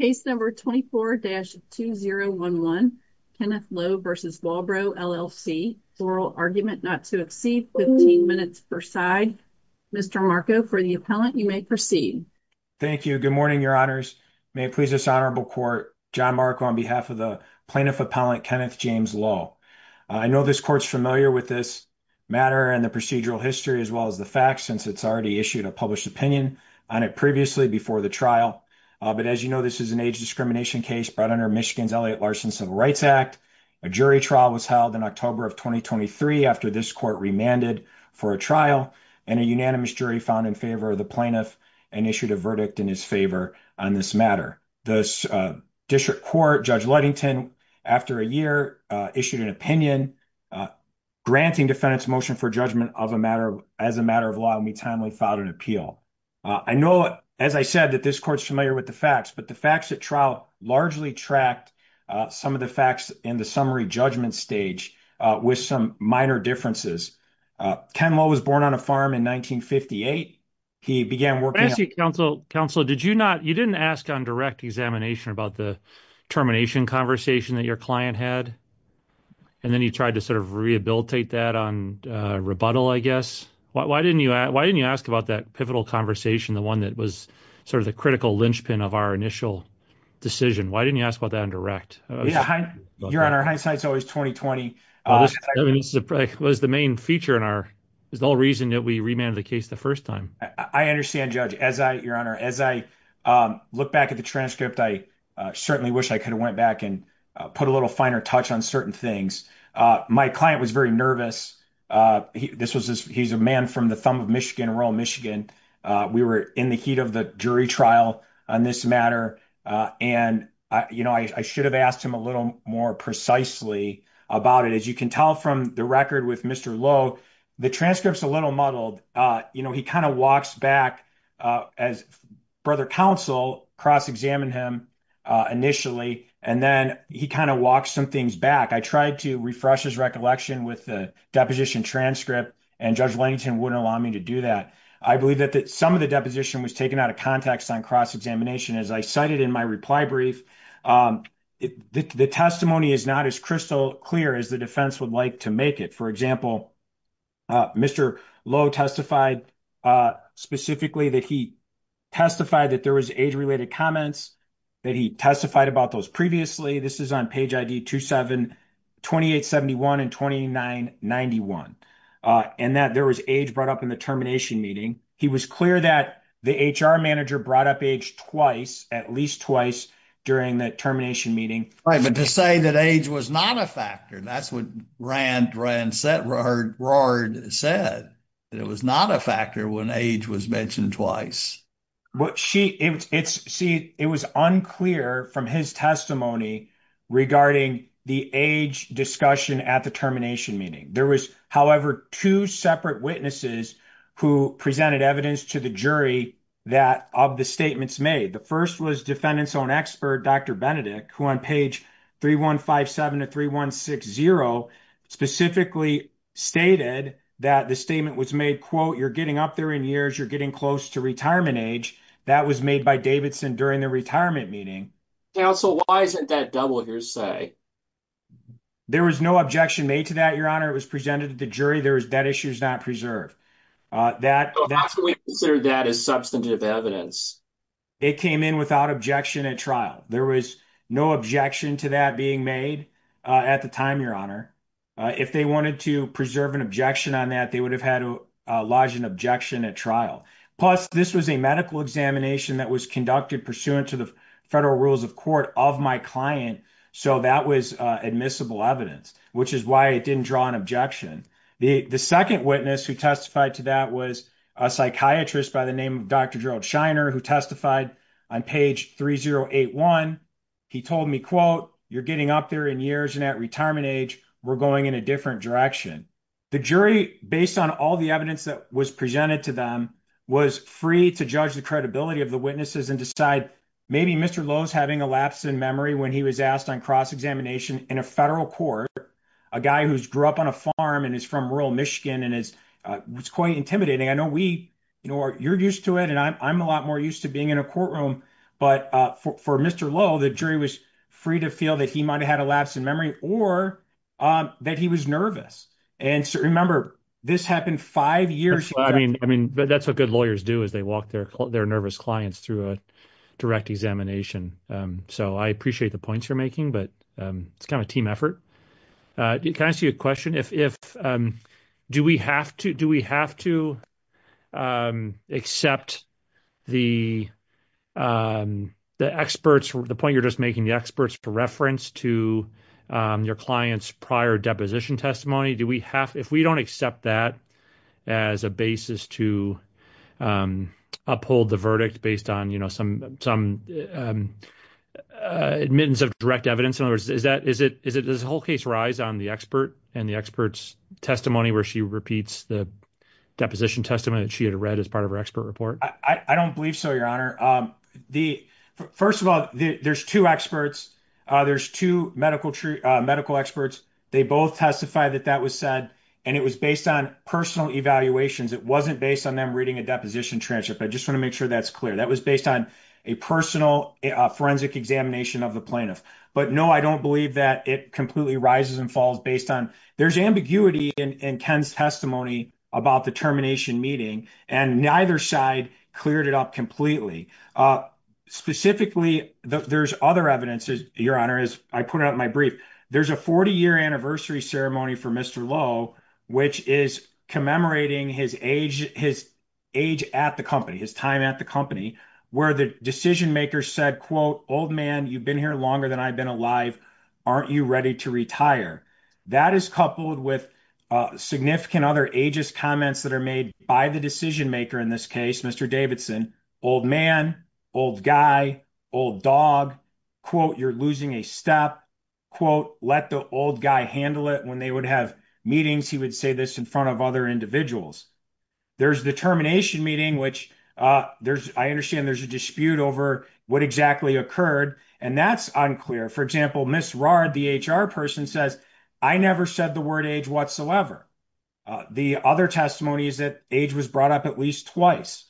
Case number 24-2011, Kenneth Lowe v. Walbro LLC, oral argument not to exceed 15 minutes per side. Mr. Marco, for the appellant, you may proceed. Thank you. Good morning, your honors. May it please this honorable court, John Marco on behalf of the plaintiff appellant, Kenneth James Lowe. I know this court's familiar with this matter and the procedural history as well as the facts, since it's already issued a published opinion on it previously before the trial. But as you know, this is an age discrimination case brought under Michigan's Elliott Larson Civil Rights Act. A jury trial was held in October of 2023 after this court remanded for a trial and a unanimous jury found in favor of the plaintiff and issued a verdict in his favor on this matter. The district court, Judge Ludington, after a year, issued an opinion granting defendant's motion for judgment as a matter of law and we timely filed an appeal. I know, as I said, that this court's familiar with the facts, but the facts at trial largely tracked some of the facts in the summary judgment stage with some minor differences. Ken Lowe was born on a farm in 1958. He began working- Let me ask you, counsel, did you not, you didn't ask on direct examination about the termination conversation that your client had and then you tried to sort of rehabilitate that on rebuttal, I guess? Why didn't you ask about that pivotal conversation, the one that was sort of the critical linchpin of our initial decision? Why didn't you ask about that on direct? Your Honor, hindsight's always 20-20. Was the main feature in our, there's no reason that we remanded the case the first time. I understand, Judge. As I, Your Honor, as I look back at the transcript, I certainly wish I could have went back and put a little finer touch on certain things. My client was very nervous. This was, he's a man from the thumb of Michigan, rural Michigan. We were in the heat of the jury trial on this matter. And, you know, I should have asked him a little more precisely about it. As you can tell from the record with Mr. Lowe, the transcript's a little muddled. You know, he kind of walks back as brother counsel, cross-examine him initially, and then he kind of walks some things back. I tried to refresh his recollection with the deposition transcript, and Judge Langton wouldn't allow me to do that. I believe that some of the deposition was taken out of context on cross-examination. As I cited in my reply brief, the testimony is not as crystal clear as the defense would like to make it. For example, Mr. Lowe testified specifically that he testified that there was age-related comments, that he testified about those previously. This is on page ID 27, 2871 and 2991. And that there was age brought up in the termination meeting. He was clear that the HR manager brought up age twice, at least twice, during the termination meeting. Right. But to say that age was not a factor, that's what Rand said, that it was not a factor when age was mentioned twice. Well, see, it was unclear from his testimony regarding the age discussion at the termination meeting. There was, however, two separate witnesses who presented evidence to the jury of the statements made. The first was defendant's own expert, Dr. Benedict, who on page 3157 to 3160 specifically stated that the statement was made, quote, you're getting up there in years, you're getting close to retirement age. That was made by Davidson during the retirement meeting. Counsel, why isn't that double your say? There was no objection made to that, Your Honor. It was presented to the jury. That issue is not preserved. So how can we consider that as substantive evidence? It came in without objection at trial. There was no objection to that being made at the time, Your Honor. If they wanted to preserve an objection on that, they would have had to lodge an objection at trial. Plus, this was a medical examination that was conducted pursuant to the federal rules of court of my client. So that was admissible evidence, which is why it didn't draw an objection. The second witness who testified to that was a psychiatrist by the name of Dr. Gerald Shiner, who testified on page 3081. He told me, quote, you're getting up there in retirement age. We're going in a different direction. The jury, based on all the evidence that was presented to them, was free to judge the credibility of the witnesses and decide maybe Mr. Lowe's having a lapse in memory when he was asked on cross-examination in a federal court. A guy who's grew up on a farm and is from rural Michigan and was quite intimidating. I know you're used to it, and I'm a lot more used to being in a courtroom. But for Mr. Lowe, the jury was free to feel that he might have had a lapse in memory or that he was nervous. And so remember, this happened five years ago. I mean, that's what good lawyers do is they walk their nervous clients through a direct examination. So I appreciate the points you're making, but it's kind of a team effort. Can I ask you a question? Do we have to accept the experts, the point you're making, the experts for reference to your client's prior deposition testimony? If we don't accept that as a basis to uphold the verdict based on some admittance of direct evidence, does the whole case rise on the expert and the expert's testimony where she repeats the deposition testimony that she had read as part of her expert report? I don't believe so, Your Honor. First of all, there's two experts. There's two medical experts. They both testified that that was said, and it was based on personal evaluations. It wasn't based on them reading a deposition transcript. I just want to make sure that's clear. That was based on a personal forensic examination of the plaintiff. But no, I don't believe that it completely rises and falls based on... There's ambiguity in Ken's testimony about the termination meeting, and neither side cleared it up completely. Specifically, there's other evidence, Your Honor, as I put it out in my brief. There's a 40-year anniversary ceremony for Mr. Lowe, which is commemorating his age at the company, his time at the company, where the decision makers said, quote, old man, you've been here longer than I've been alive. Aren't you ready to retire? That is coupled with significant other ageist comments that are made by the decision maker in this case, Mr. Davidson. Old man, old guy, old dog. Quote, you're losing a step. Quote, let the old guy handle it. When they would have meetings, he would say this in front of other individuals. There's the termination meeting, which I understand there's a dispute over what exactly occurred, and that's unclear. For example, Ms. Rahr, the HR person says, I never said the word age whatsoever. The other testimony is that age was brought up at least twice.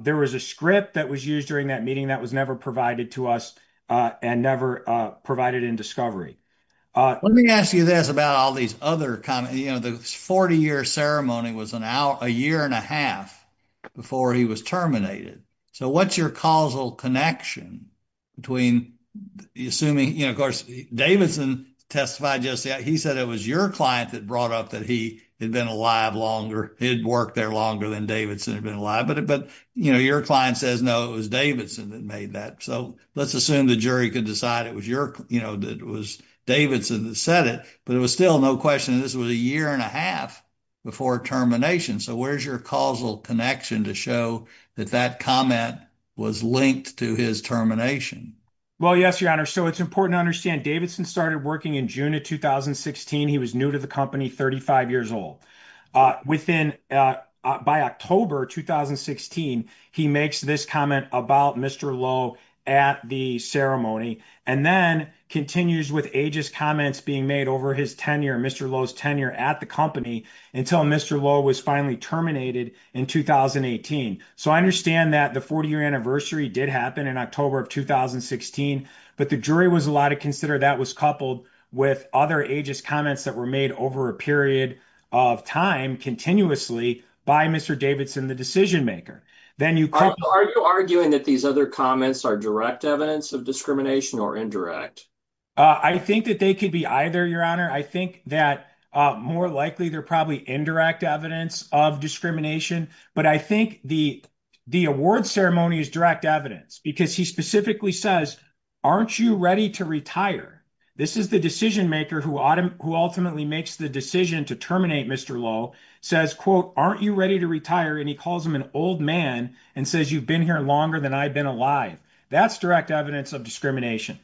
There was a script that was used during that meeting that was never provided to us and never provided in discovery. Let me ask you this about all these other comments. The 40-year ceremony was a year and a half before he was terminated. So what's your causal connection between assuming, you know, of course, Davidson testified just yet. He said it was your client that brought up that he had been alive longer. He had worked there longer than Davidson had been alive. But, you know, your client says no, it was Davidson that made that. So let's assume the jury could decide it was your, you know, that it was Davidson that said it. But it was still no question that this was a year and a half before termination. So where's your causal connection to show that that comment was linked to his termination? Well, yes, Your Honor. So it's important to understand Davidson started working in June of 2016. He was new to the company, 35 years old. Within, by October 2016, he makes this comment about Mr. Lowe at the ceremony and then continues with ageist comments being made over his tenure, Mr. Lowe's tenure at the company until Mr. Lowe was finally terminated in 2018. So I understand that the 40-year anniversary did happen in October of 2016. But the jury was allowed to consider that was coupled with other ageist comments that were made over a period of time continuously by Mr. Davidson, the decision maker. Then you are arguing that these other comments are direct evidence of discrimination or indirect? I think that they could be either, Your Honor. I think that more likely, they're probably indirect evidence of discrimination. But I think the award ceremony is direct evidence because he specifically says, aren't you ready to retire? This is the decision maker who ultimately makes the decision to terminate Mr. Lowe, says, quote, aren't you ready to retire? And he calls him an old man and says, you've been here longer than I've been alive. That's direct evidence of discrimination.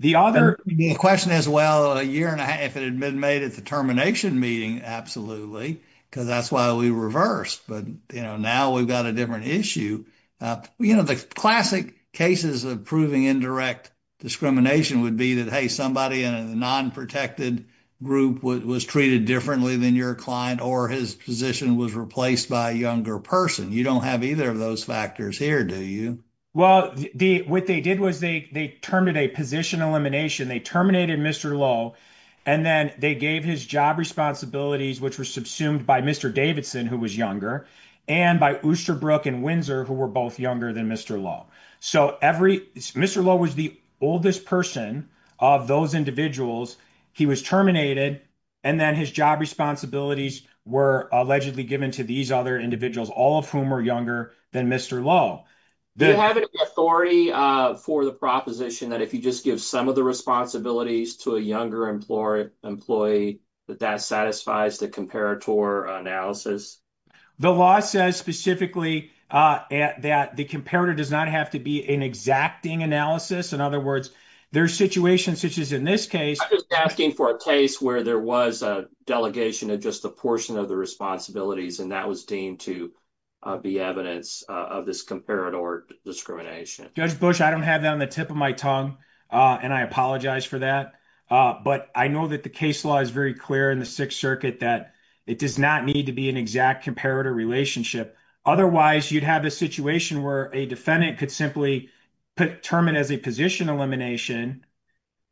The other question is, well, a year and a half if it had been made at the termination meeting, absolutely, because that's why we reversed. But now we've got a different issue. The classic cases of proving indirect discrimination would be that, hey, somebody in a non-protected group was treated differently than your client or his position was replaced by a younger person. You don't have either of those factors here, do you? Well, what they did was they terminated a position elimination. They terminated Mr. Lowe. And then they gave his job responsibilities, which were subsumed by Mr. Davidson, who was younger, and by Oosterbrook and Windsor, who were both younger than Mr. Lowe. So Mr. Lowe was the oldest person of those individuals. He was terminated. And then his job responsibilities were allegedly given to these other individuals, all of whom are younger than Mr. Lowe. Do you have any authority for the proposition that if you just give some of the responsibilities to a younger employee, that that satisfies the comparator analysis? The law says specifically that the comparator does not have to be an exacting analysis. In other words, there are situations, such as in this case. I'm just asking for a case where there was a delegation of just a portion of the responsibilities, and that was deemed to be evidence of this comparator discrimination. Judge Bush, I don't have that on the tip of my tongue, and I apologize for that. But I know that the case law is very clear in the Sixth Circuit that it does not need to be an exact comparator relationship. Otherwise, you'd have a situation where a defendant could simply put termination as a position elimination,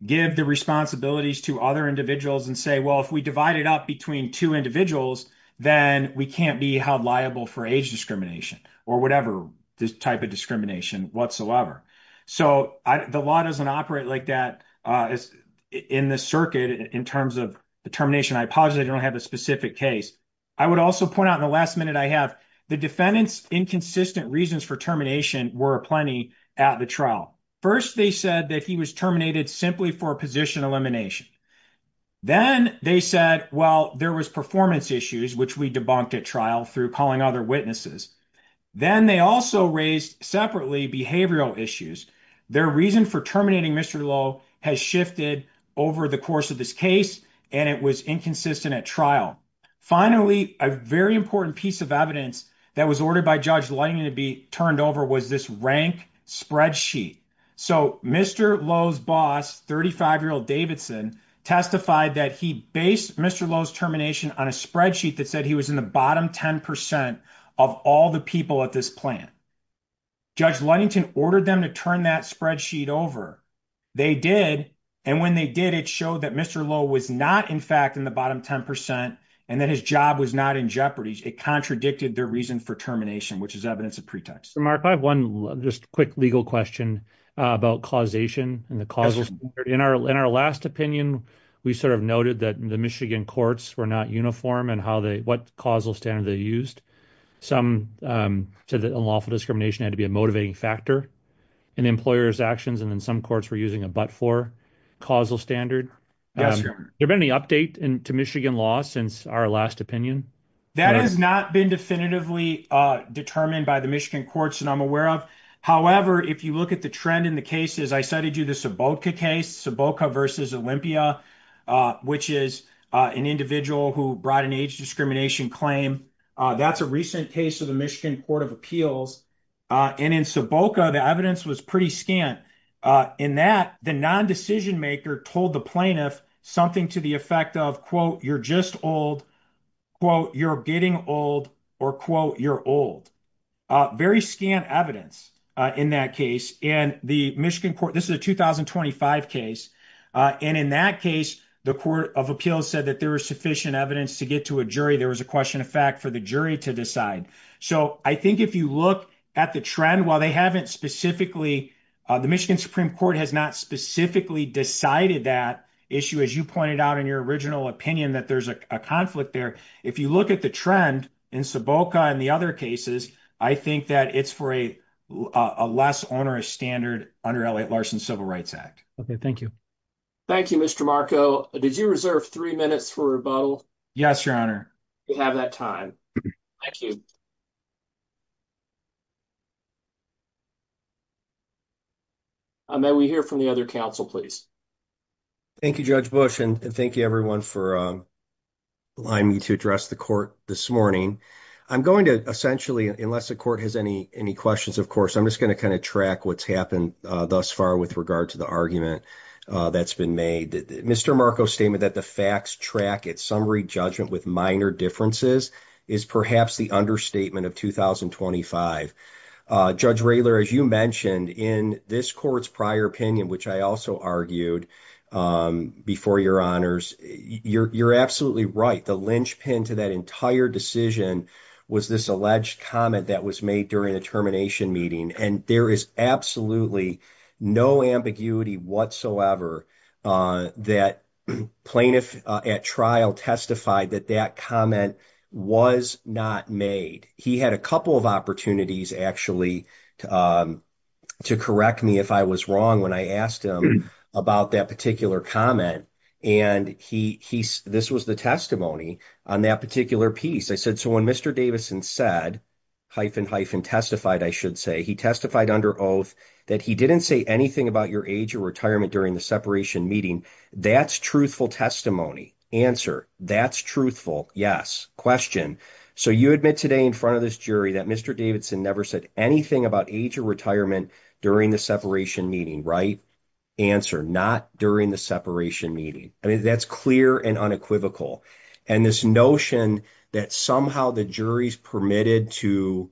give the responsibilities to other individuals, and say, well, if we divide it up between two individuals, then we can't be held liable for age discrimination or whatever type of discrimination whatsoever. So the law doesn't operate like that in the circuit in terms of the termination. I apologize. I don't have a specific case. I would also point out in the last minute I have, the defendant's inconsistent reasons for termination were plenty at the trial. First, they said that he was terminated simply for position elimination. Then they said, well, there was performance issues, which we debunked at trial through calling other witnesses. Then they also raised separately behavioral issues. Their reason for terminating Mr. Lowe has shifted over the course of this case, and it was inconsistent at trial. Finally, a very important piece of evidence that was ordered by Judge Lighting to be turned over was this rank spreadsheet. So Mr. Lowe's boss, 35-year-old Davidson, testified that he based Mr. Lowe's termination on a spreadsheet that said he was in the bottom 10 percent of all the people at this plant. Judge Ludington ordered them to turn that spreadsheet over. They did, and when they did, it showed that Mr. Lowe was not, in fact, in the bottom 10 percent and that his job was not in jeopardy. It contradicted their reason for termination, which is evidence of pretext. Mark, I have one just quick legal question about causation and the causal standard. In our last opinion, we sort of noted that the Michigan courts were not uniform in what causal standard they used. Some said that unlawful discrimination had to be a motivating factor in the employer's actions, and then some courts were using a but-for causal standard. Has there been any update to Michigan law since our last opinion? That has not been definitively determined by Michigan courts that I'm aware of. However, if you look at the trend in the cases, I cited you the Suboca case, Suboca v. Olympia, which is an individual who brought an age discrimination claim. That's a recent case of the Michigan Court of Appeals, and in Suboca, the evidence was pretty scant. In that, the non-decision maker told the plaintiff something to the effect of, quote, you're just old, quote, you're getting old, or quote, you're old. Very scant evidence in that case, and the Michigan court, this is a 2025 case, and in that case, the Court of Appeals said that there was sufficient evidence to get to a jury. There was a question of fact for the jury to decide. So, I think if you look at the trend, while they haven't specifically, the Michigan Supreme Court has not specifically decided that issue, as you pointed out in your original opinion that there's a conflict there, if you look at the trend in Suboca and the other cases, I think that it's for a less onerous standard under Elliott Larson's Civil Rights Act. Okay, thank you. Thank you, Mr. Marco. Did you reserve three minutes for rebuttal? Yes, your honor. You have that time. Thank you. I may we hear from the other counsel, please. Thank you, Judge Bush, and thank you, everyone, for allowing me to address the court this morning. I'm going to essentially, unless the court has any questions, of course, I'm just going to kind of track what's happened thus far with regard to the argument that's been made. Mr. Marco's statement that the facts track at summary judgment with understatement of 2025. Judge Raylor, as you mentioned, in this court's prior opinion, which I also argued before your honors, you're absolutely right. The linchpin to that entire decision was this alleged comment that was made during the termination meeting, and there is absolutely no ambiguity whatsoever that plaintiff at trial testified that that comment was not made. He had a couple of opportunities, actually, to correct me if I was wrong when I asked him about that particular comment, and this was the testimony on that particular piece. I said, so when Mr. Davidson said, hyphen, hyphen, testified, I should say, he testified under oath that he didn't say anything about your age or retirement during the separation meeting. That's truthful testimony. Answer, that's truthful. Yes. Question, so you admit today in front of this jury that Mr. Davidson never said anything about age or retirement during the separation meeting, right? Answer, not during the separation meeting. I mean, that's clear and unequivocal, and this notion that somehow the jury permitted to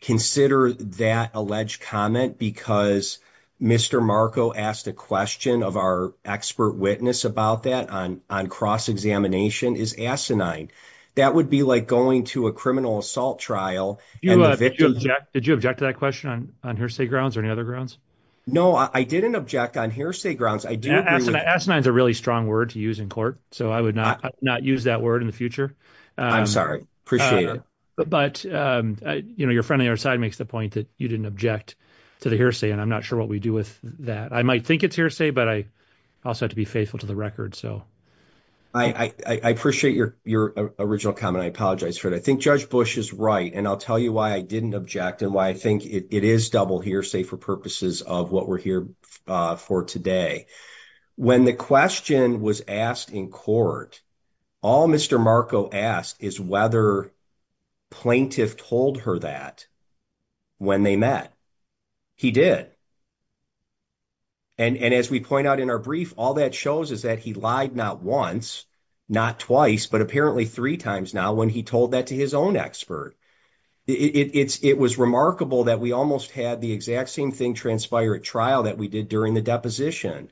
consider that alleged comment because Mr. Marco asked a question of our expert witness about that on cross-examination is asinine. That would be like going to a criminal assault trial. Did you object to that question on hearsay grounds or any other grounds? No, I didn't object on hearsay grounds. Asinine is a really strong word to use in court, so I would not use that word in the future. I'm sorry, appreciate it. But, you know, your friend on the other side makes the point that you didn't object to the hearsay, and I'm not sure what we do with that. I might think it's hearsay, but I also have to be faithful to the record, so. I appreciate your original comment. I apologize for it. I think Judge Bush is right, and I'll tell you why I didn't object and why I think it is double hearsay for purposes of what we're here for today. When the question was asked in court, all Mr. Marco asked is whether plaintiff told her that when they met. He did. And as we point out in our brief, all that shows is that he lied not once, not twice, but apparently three times now when he told that to his own expert. It was remarkable that we almost had the exact same thing transpire at trial that we did during the deposition.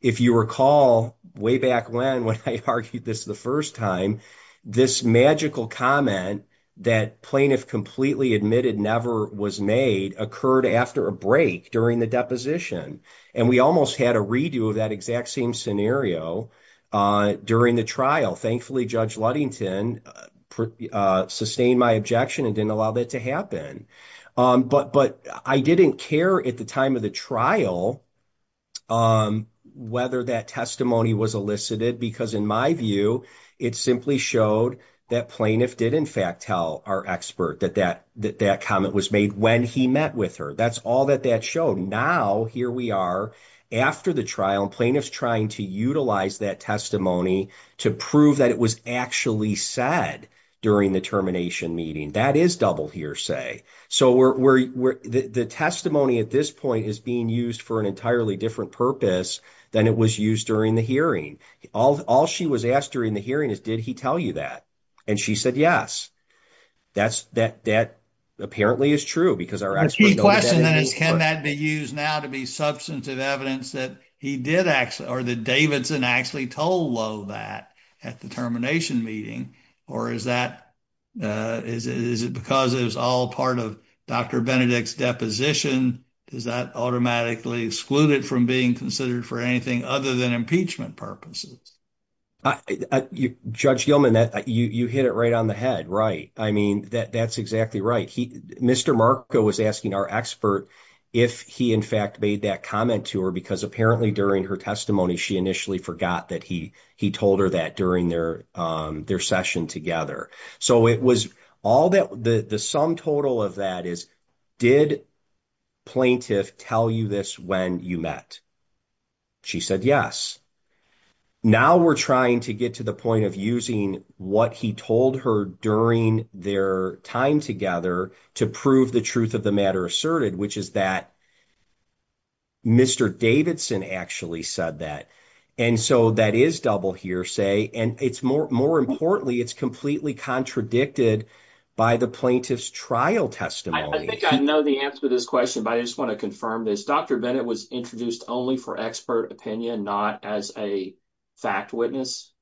If you recall, way back when, when I argued this the first time, this magical comment that plaintiff completely admitted never was made occurred after a break during the deposition. And we almost had a redo of that exact same scenario during the trial. Thankfully, Judge Ludington sustained my objection and didn't allow that to happen. But I didn't care at the time of the trial whether that testimony was elicited because, in my view, it simply showed that plaintiff did, in fact, tell our expert that that comment was made when he met with her. That's all that that showed. Now, here we are after the trial, and plaintiff's trying to utilize that testimony to prove that it was actually said during the termination meeting. That is double hearsay. So, the testimony at this point is being used for an entirely different purpose than it was used during the hearing. All she was asked during the hearing is, did he tell you that? And she said, yes. That apparently is true because our expert knows that. The key question then is, can that be used now to be substantive evidence that he did actually, or that Davidson actually, told Lovatt at the termination meeting? Or is it because it was all part of Dr. Benedict's deposition? Does that automatically exclude it from being considered for anything other than impeachment purposes? Judge Gilman, you hit it right on the head, right? I mean, that's exactly right. Mr. Marco was asking our expert if he, in fact, made that comment to her because apparently, during her testimony, she initially forgot that he told her that during their session together. So, the sum total of that is, did plaintiff tell you this when you met? She said, yes. Now, we're trying to get to the point of using what he told her during their time together to prove the truth of the matter asserted, which is that Mr. Davidson actually said that. And so, that is double hearsay. And more importantly, it's completely contradicted by the plaintiff's trial testimony. I think I know the answer to this question, but I just want to confirm this. Dr. Benedict was introduced only for expert opinion, not as a fact witness?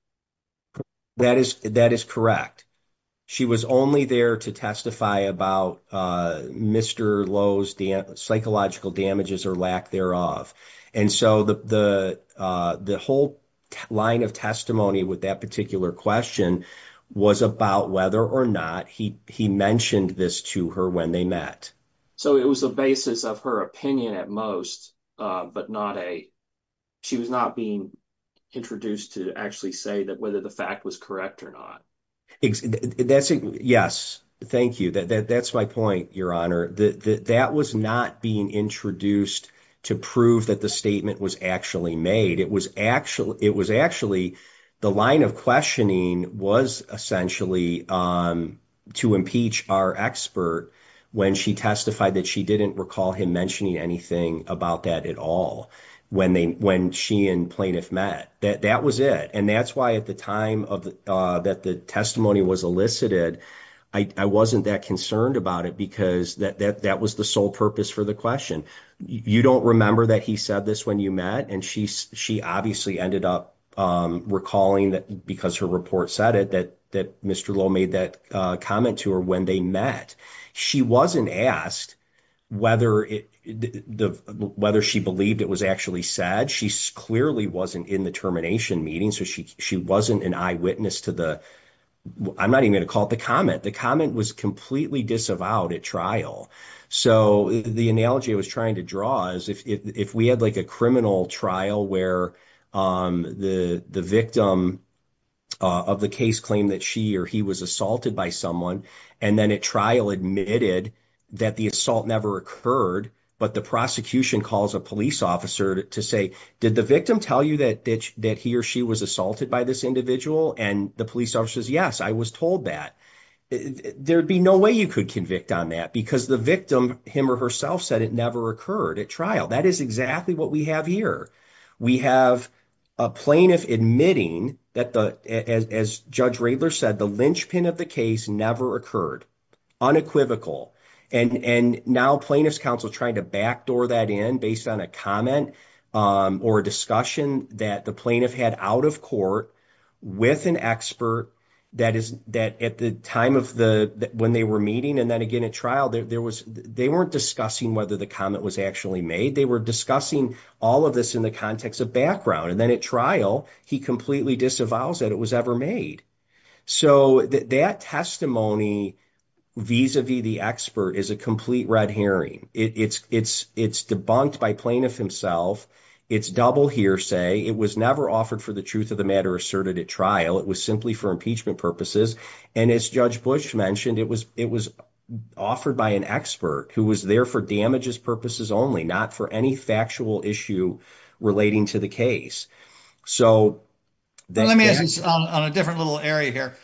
That is correct. She was only there to testify about Mr. Lowe's psychological damages or lack thereof. And so, the whole line of testimony with that particular question was about whether or not he mentioned this to her when they met. So, it was a basis of her opinion at most, but she was not being introduced to actually say whether the fact was or not. Yes. Thank you. That's my point, Your Honor. That was not being introduced to prove that the statement was actually made. It was actually the line of questioning was essentially to impeach our expert when she testified that she didn't recall him mentioning anything about that at all when she and plaintiff met. That was it. And that's why at the time that the testimony was elicited, I wasn't that concerned about it because that was the sole purpose for the question. You don't remember that he said this when you met? And she obviously ended up recalling that because her report said it, that Mr. Lowe made that comment to her when they met. She wasn't asked whether she believed it was actually said. She clearly wasn't in the termination meeting, so she wasn't an eyewitness to the, I'm not even going to call it the comment. The comment was completely disavowed at trial. So, the analogy I was trying to draw is if we had like a criminal trial where the victim of the case claimed that she or he was assaulted by someone, and then at trial admitted that the assault never occurred, but the prosecution calls a police officer to say, did the victim tell you that he or she was assaulted by this individual? And the police officer says, yes, I was told that. There'd be no way you could convict on that because the victim him or herself said it never occurred at trial. That is exactly what we have here. We have a plaintiff admitting that the, as Judge Radler said, the linchpin of the case never occurred, unequivocal. And now plaintiff's counsel trying to backdoor that in based on a comment or a discussion that the plaintiff had out of court with an expert that is, that at the time of the, when they were meeting and then again at trial, there was, they weren't discussing whether the comment was actually made. They were discussing all of this in the context of background. And then at trial, he completely disavows that it was ever made. So, that testimony vis-a-vis the expert is a complete red herring. It's debunked by plaintiff himself. It's double hearsay. It was never offered for the truth of the matter asserted at trial. It was simply for impeachment purposes. And as Judge Bush mentioned, it was offered by an expert who was there for damages purposes only, not for any factual issue relating to the case. So, let me ask this on a different little area here.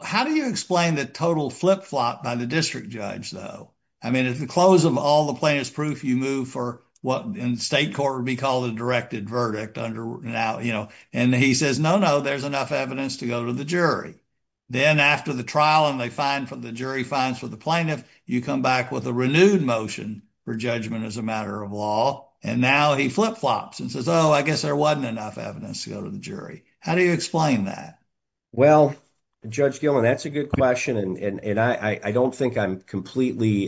How do you explain the total flip-flop by the district judge though? I mean, at the close of all the plaintiff's proof, you move for what in state court would be called a directed verdict under now, you know, and he says, no, no, there's enough evidence to go to the jury. Then after the trial and they find from the jury finds for the plaintiff, you come back with a renewed motion for judgment as a matter of law. And now he flip-flops and says, oh, I guess there wasn't enough evidence to go to the jury. How do you explain that? Well, Judge Gilman, that's a good question. And I don't think I'm completely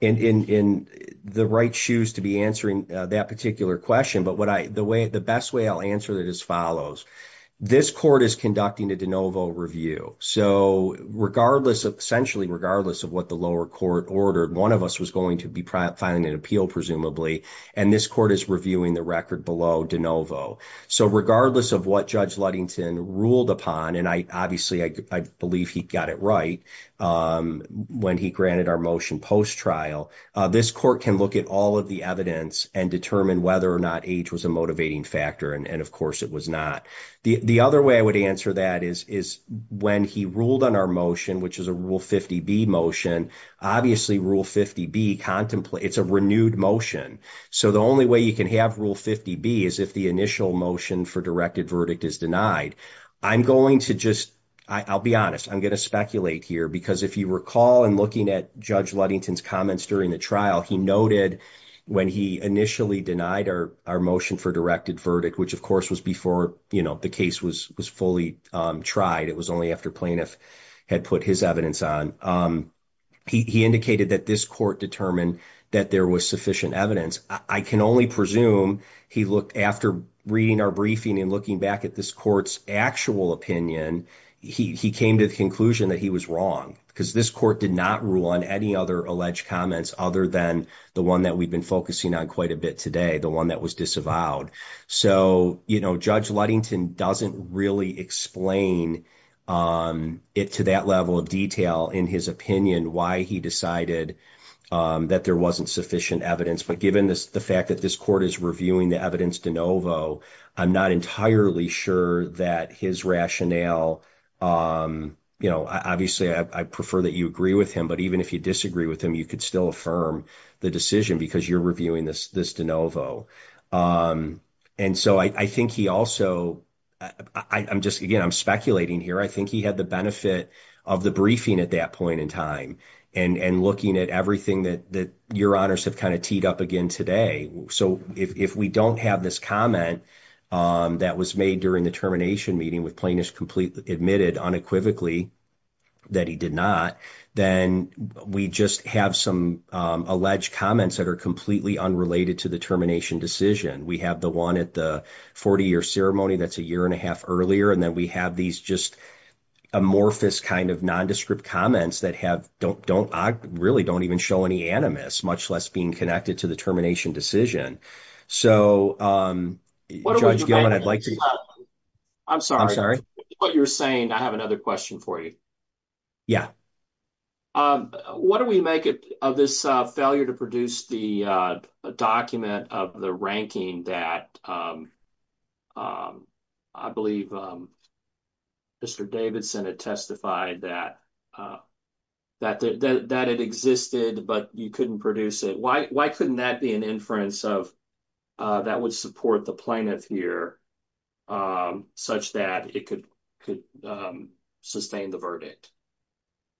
in the right shoes to be answering that particular question. But the best way I'll answer it is as follows. This court is review. So, regardless of essentially, regardless of what the lower court ordered, one of us was going to be filing an appeal, presumably, and this court is reviewing the record below de novo. So, regardless of what Judge Ludington ruled upon, and I obviously, I believe he got it right when he granted our motion post-trial, this court can look at all of the evidence and determine whether or not age was a motivating factor. And of course, it was not. The other way I would answer that is when he ruled on our motion, which is a Rule 50B motion, obviously, Rule 50B contemplates, it's a renewed motion. So, the only way you can have Rule 50B is if the initial motion for directed verdict is denied. I'm going to just, I'll be honest, I'm going to speculate here because if you recall in looking at Judge Ludington's comments during the trial, he noted when he initially denied our motion for directed verdict, which of course was before, you know, the case was fully tried, it was only after plaintiff had put his evidence on, he indicated that this court determined that there was sufficient evidence. I can only presume he looked after reading our briefing and looking back at this court's actual opinion, he came to the conclusion that he was wrong because this court did not rule on any other alleged comments other than the one that we've been focusing on quite a bit today, the one that was disavowed. So, you know, Judge Ludington doesn't really explain it to that level of detail in his opinion why he decided that there wasn't sufficient evidence, but given the fact that this court is reviewing the evidence de novo, I'm not entirely sure that his rationale, you know, obviously, I prefer that you agree with him, but even if you disagree with him, you could still affirm the decision because you're reviewing this de novo. And so I think he also, I'm just, again, I'm speculating here, I think he had the benefit of the briefing at that point in time and looking at everything that your honors have kind of teed up again today. So if we don't have this comment that was made during the termination meeting with plaintiffs completely admitted unequivocally that he did not, then we just have some alleged comments that are completely unrelated to the termination decision. We have the one at the 40-year ceremony that's a year and a half earlier, and then we have these just amorphous kind of nondescript comments that have, don't, really don't even show any animus, much less being connected to the termination decision. So Judge Gilman, I'd like to, I'm sorry, I'm sorry, what you're the document of the ranking that I believe Mr. Davidson had testified that that it existed, but you couldn't produce it. Why couldn't that be an inference of that would support the plaintiff here such that it could sustain the verdict?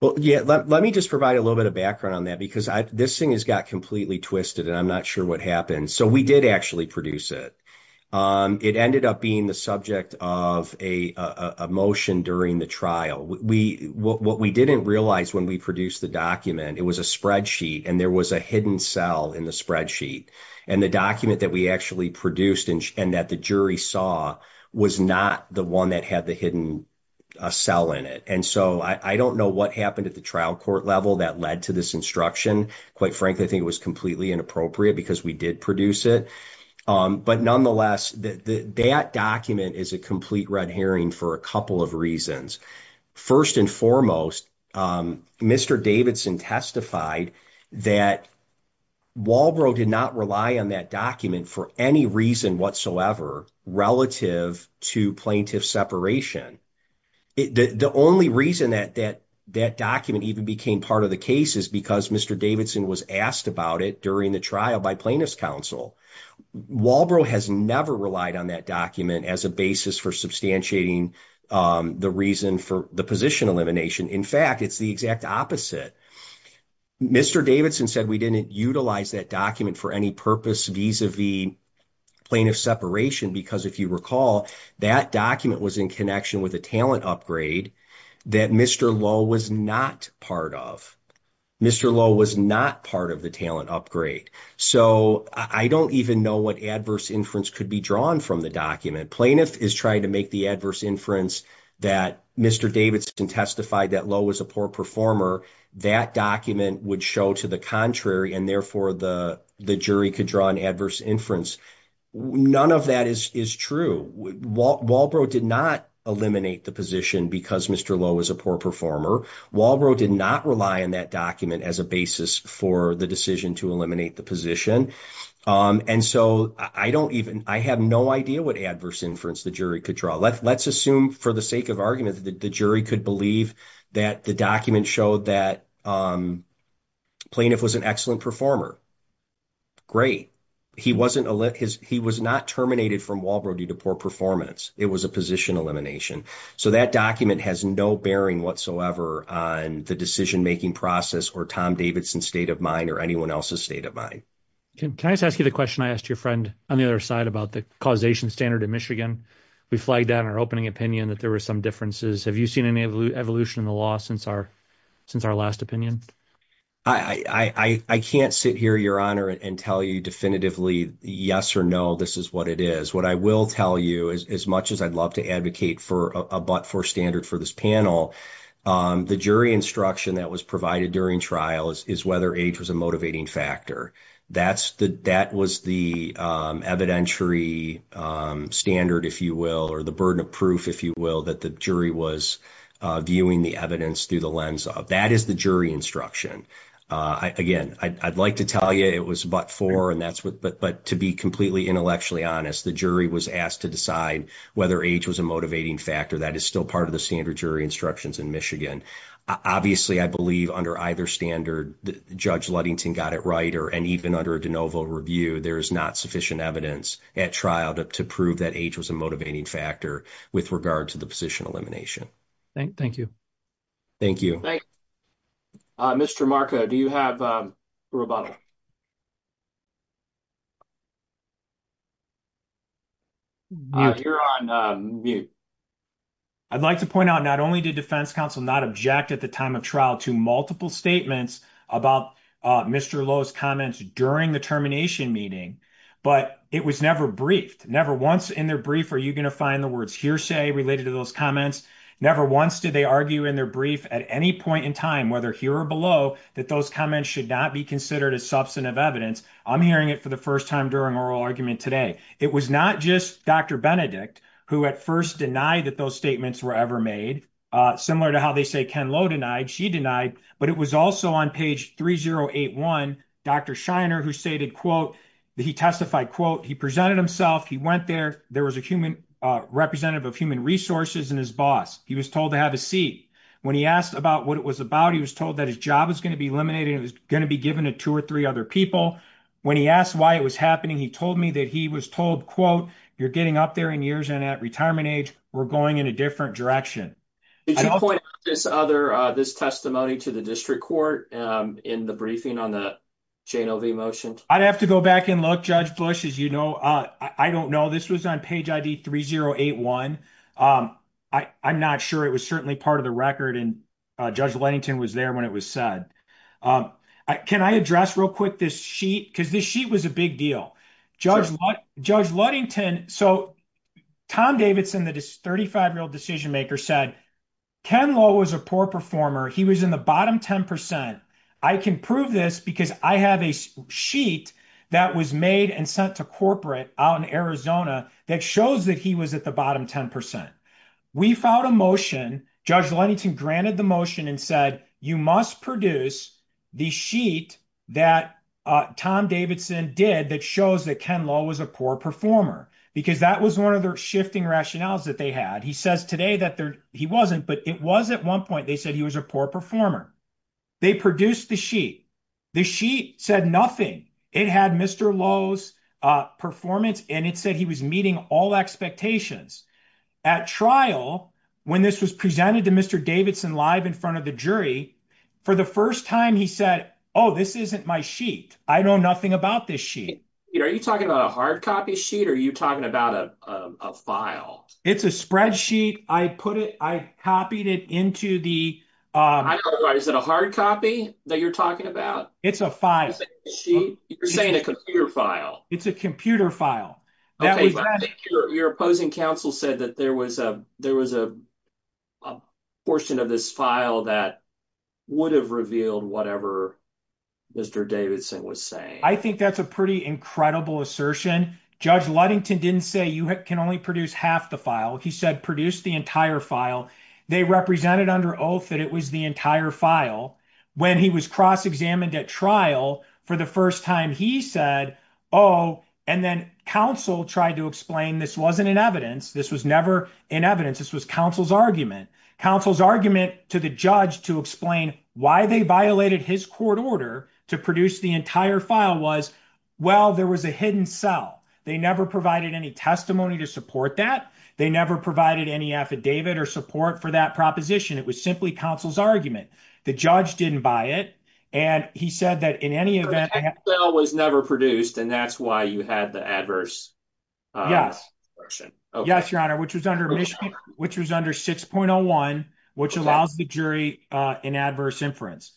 Well, yeah, let me just provide a little bit of background on that because this thing has completely twisted, and I'm not sure what happened. So we did actually produce it. It ended up being the subject of a motion during the trial. What we didn't realize when we produced the document, it was a spreadsheet, and there was a hidden cell in the spreadsheet, and the document that we actually produced and that the jury saw was not the one that had the hidden cell in it. And so I don't know what happened at the trial court level that led to this instruction. Quite frankly, I think it was completely inappropriate because we did produce it. But nonetheless, that document is a complete red herring for a couple of reasons. First and foremost, Mr. Davidson testified that Walbro did not rely on that document for any reason whatsoever relative to plaintiff separation. The only reason that document even became part of the case is because Mr. Davidson was asked about it during the trial by plaintiff's counsel. Walbro has never relied on that document as a basis for substantiating the reason for the position elimination. In fact, it's the exact opposite. Mr. Davidson said we didn't utilize that document for any purpose vis-a-vis plaintiff separation because if you recall, that document was in connection with a talent upgrade that Mr. Lowe was not part of. Mr. Lowe was not part of the talent upgrade. So I don't even know what adverse inference could be drawn from the document. Plaintiff is trying to make the adverse inference that Mr. Davidson testified that Lowe was a poor performer. That document would show to the contrary and therefore the jury could draw an adverse inference. None of that is true. Walbro did not eliminate the position because Mr. Lowe was a poor performer. Walbro did not rely on that document as a basis for the decision to eliminate the position. I have no idea what adverse inference the jury could draw. Let's assume for the sake of argument that the jury could believe that the document showed that plaintiff was an excellent performer. Great. He was not terminated from Walbro due to poor performance. It was a position elimination. So that document has no bearing whatsoever on the decision-making process or Tom Davidson's state of mind or anyone else's state of mind. Can I just ask you the question I asked your friend on the other side about the causation standard in Michigan? We flagged down our opening opinion that there were some differences. Have you seen any evolution in the law since our last opinion? I can't sit here, Your Honor, and tell you definitively yes or no this is what it is. What I will tell you as much as I'd love to advocate for a but-for standard for this panel, the jury instruction that was provided during trial is whether age was a motivating factor. That was the evidentiary standard, if you will, or the burden of proof, if you will, that the jury was viewing the evidence through the lens of. That is the jury instruction. Again, I'd like to tell you it was but-for, but to be completely intellectually honest, the jury was asked to decide whether age was a motivating factor. That is still part of the standard jury instructions in Michigan. Obviously, I believe under either standard, Judge Luddington got it right, and even under de novo review, there is not sufficient evidence at trial to prove that age was a motivating factor with regard to the position elimination. Thank you. Thank you. Thank you. Mr. Marco, do you have a rebuttal? You're on mute. I'd like to point out not only did defense counsel not object at the time of trial to multiple statements about Mr. Lowe's comments during the termination meeting, but it was never briefed. Never once in their brief are you going to find the words hearsay related to those comments. Never once did they argue in their brief at any point in time, whether here or below, that those comments should not be considered as substantive evidence. I'm hearing it for the first time during oral argument today. It was not just Dr. Benedict who at first denied that those statements were ever made, similar to how they say Ken Lowe denied, she denied, but it was also on page 3081, Dr. Shiner who stated, quote, he testified, quote, he presented himself, he went there, there was a human representative of human resources and his boss. He was told to have a seat. When he asked about what it was about, he was told that his job was going to be eliminated, it was going to be given to two or three other people. When he asked why it was happening, he told me that he was told, quote, you're getting up there in years and at retirement age, we're going in a different direction. Did you point out this testimony to the district court in the briefing on the motion? I'd have to go back and look, Judge Bush, as you know. I don't know. This was on page ID 3081. I'm not sure. It was certainly part of the record and Judge Ludington was there when it was said. Can I address real quick this sheet? Because this sheet was a big deal. Judge Ludington, so Tom Davidson, the 35-year-old decision maker, said Ken Lowe was a poor performer. He was in the bottom 10%. I can prove this because I have a sheet that was made and sent to corporate out in Arizona that shows that he was at the bottom 10%. We filed a motion. Judge Ludington granted the motion and said, you must produce the sheet that Tom Davidson did that shows that Ken Lowe was a poor performer. Because that was one of shifting rationales that they had. He says today that he wasn't, but it was at one point they said he was a poor performer. They produced the sheet. The sheet said nothing. It had Mr. Lowe's performance and it said he was meeting all expectations. At trial, when this was presented to Mr. Davidson live in front of the jury, for the first time he said, oh, this isn't my sheet. I know nothing about this sheet. Are you talking about a hard copy sheet or are you talking about a file? It's a spreadsheet. I copied it into the... I don't know. Is it a hard copy that you're talking about? It's a file. You're saying a computer file. It's a computer file. Your opposing counsel said that there was a portion of this file that would have revealed whatever Mr. Davidson was saying. I think that's a pretty incredible assertion. Judge Ludington didn't say you can only produce half the file. He said produce the entire file. They represented under oath that it was the entire file. When he was cross-examined at trial for the first time, he said, oh, and then counsel tried to explain this wasn't in evidence. This was never in evidence. This was counsel's argument. Counsel's argument to the judge to explain why they violated his court order to produce the entire file was, well, there was a hidden cell. They never provided any testimony to support that. They never provided any affidavit or support for that proposition. It was simply counsel's argument. The judge didn't buy it and he said that in any event... The hidden cell was never produced and that's why you had the adverse... Yes. Yes, your honor, which was under Michigan, which was under 6.01, which allows the jury in adverse inference.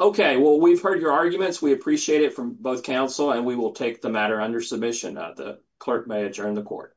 Okay, well we've heard your arguments. We appreciate it from both counsel and we will take the matter under submission. The clerk may adjourn the court.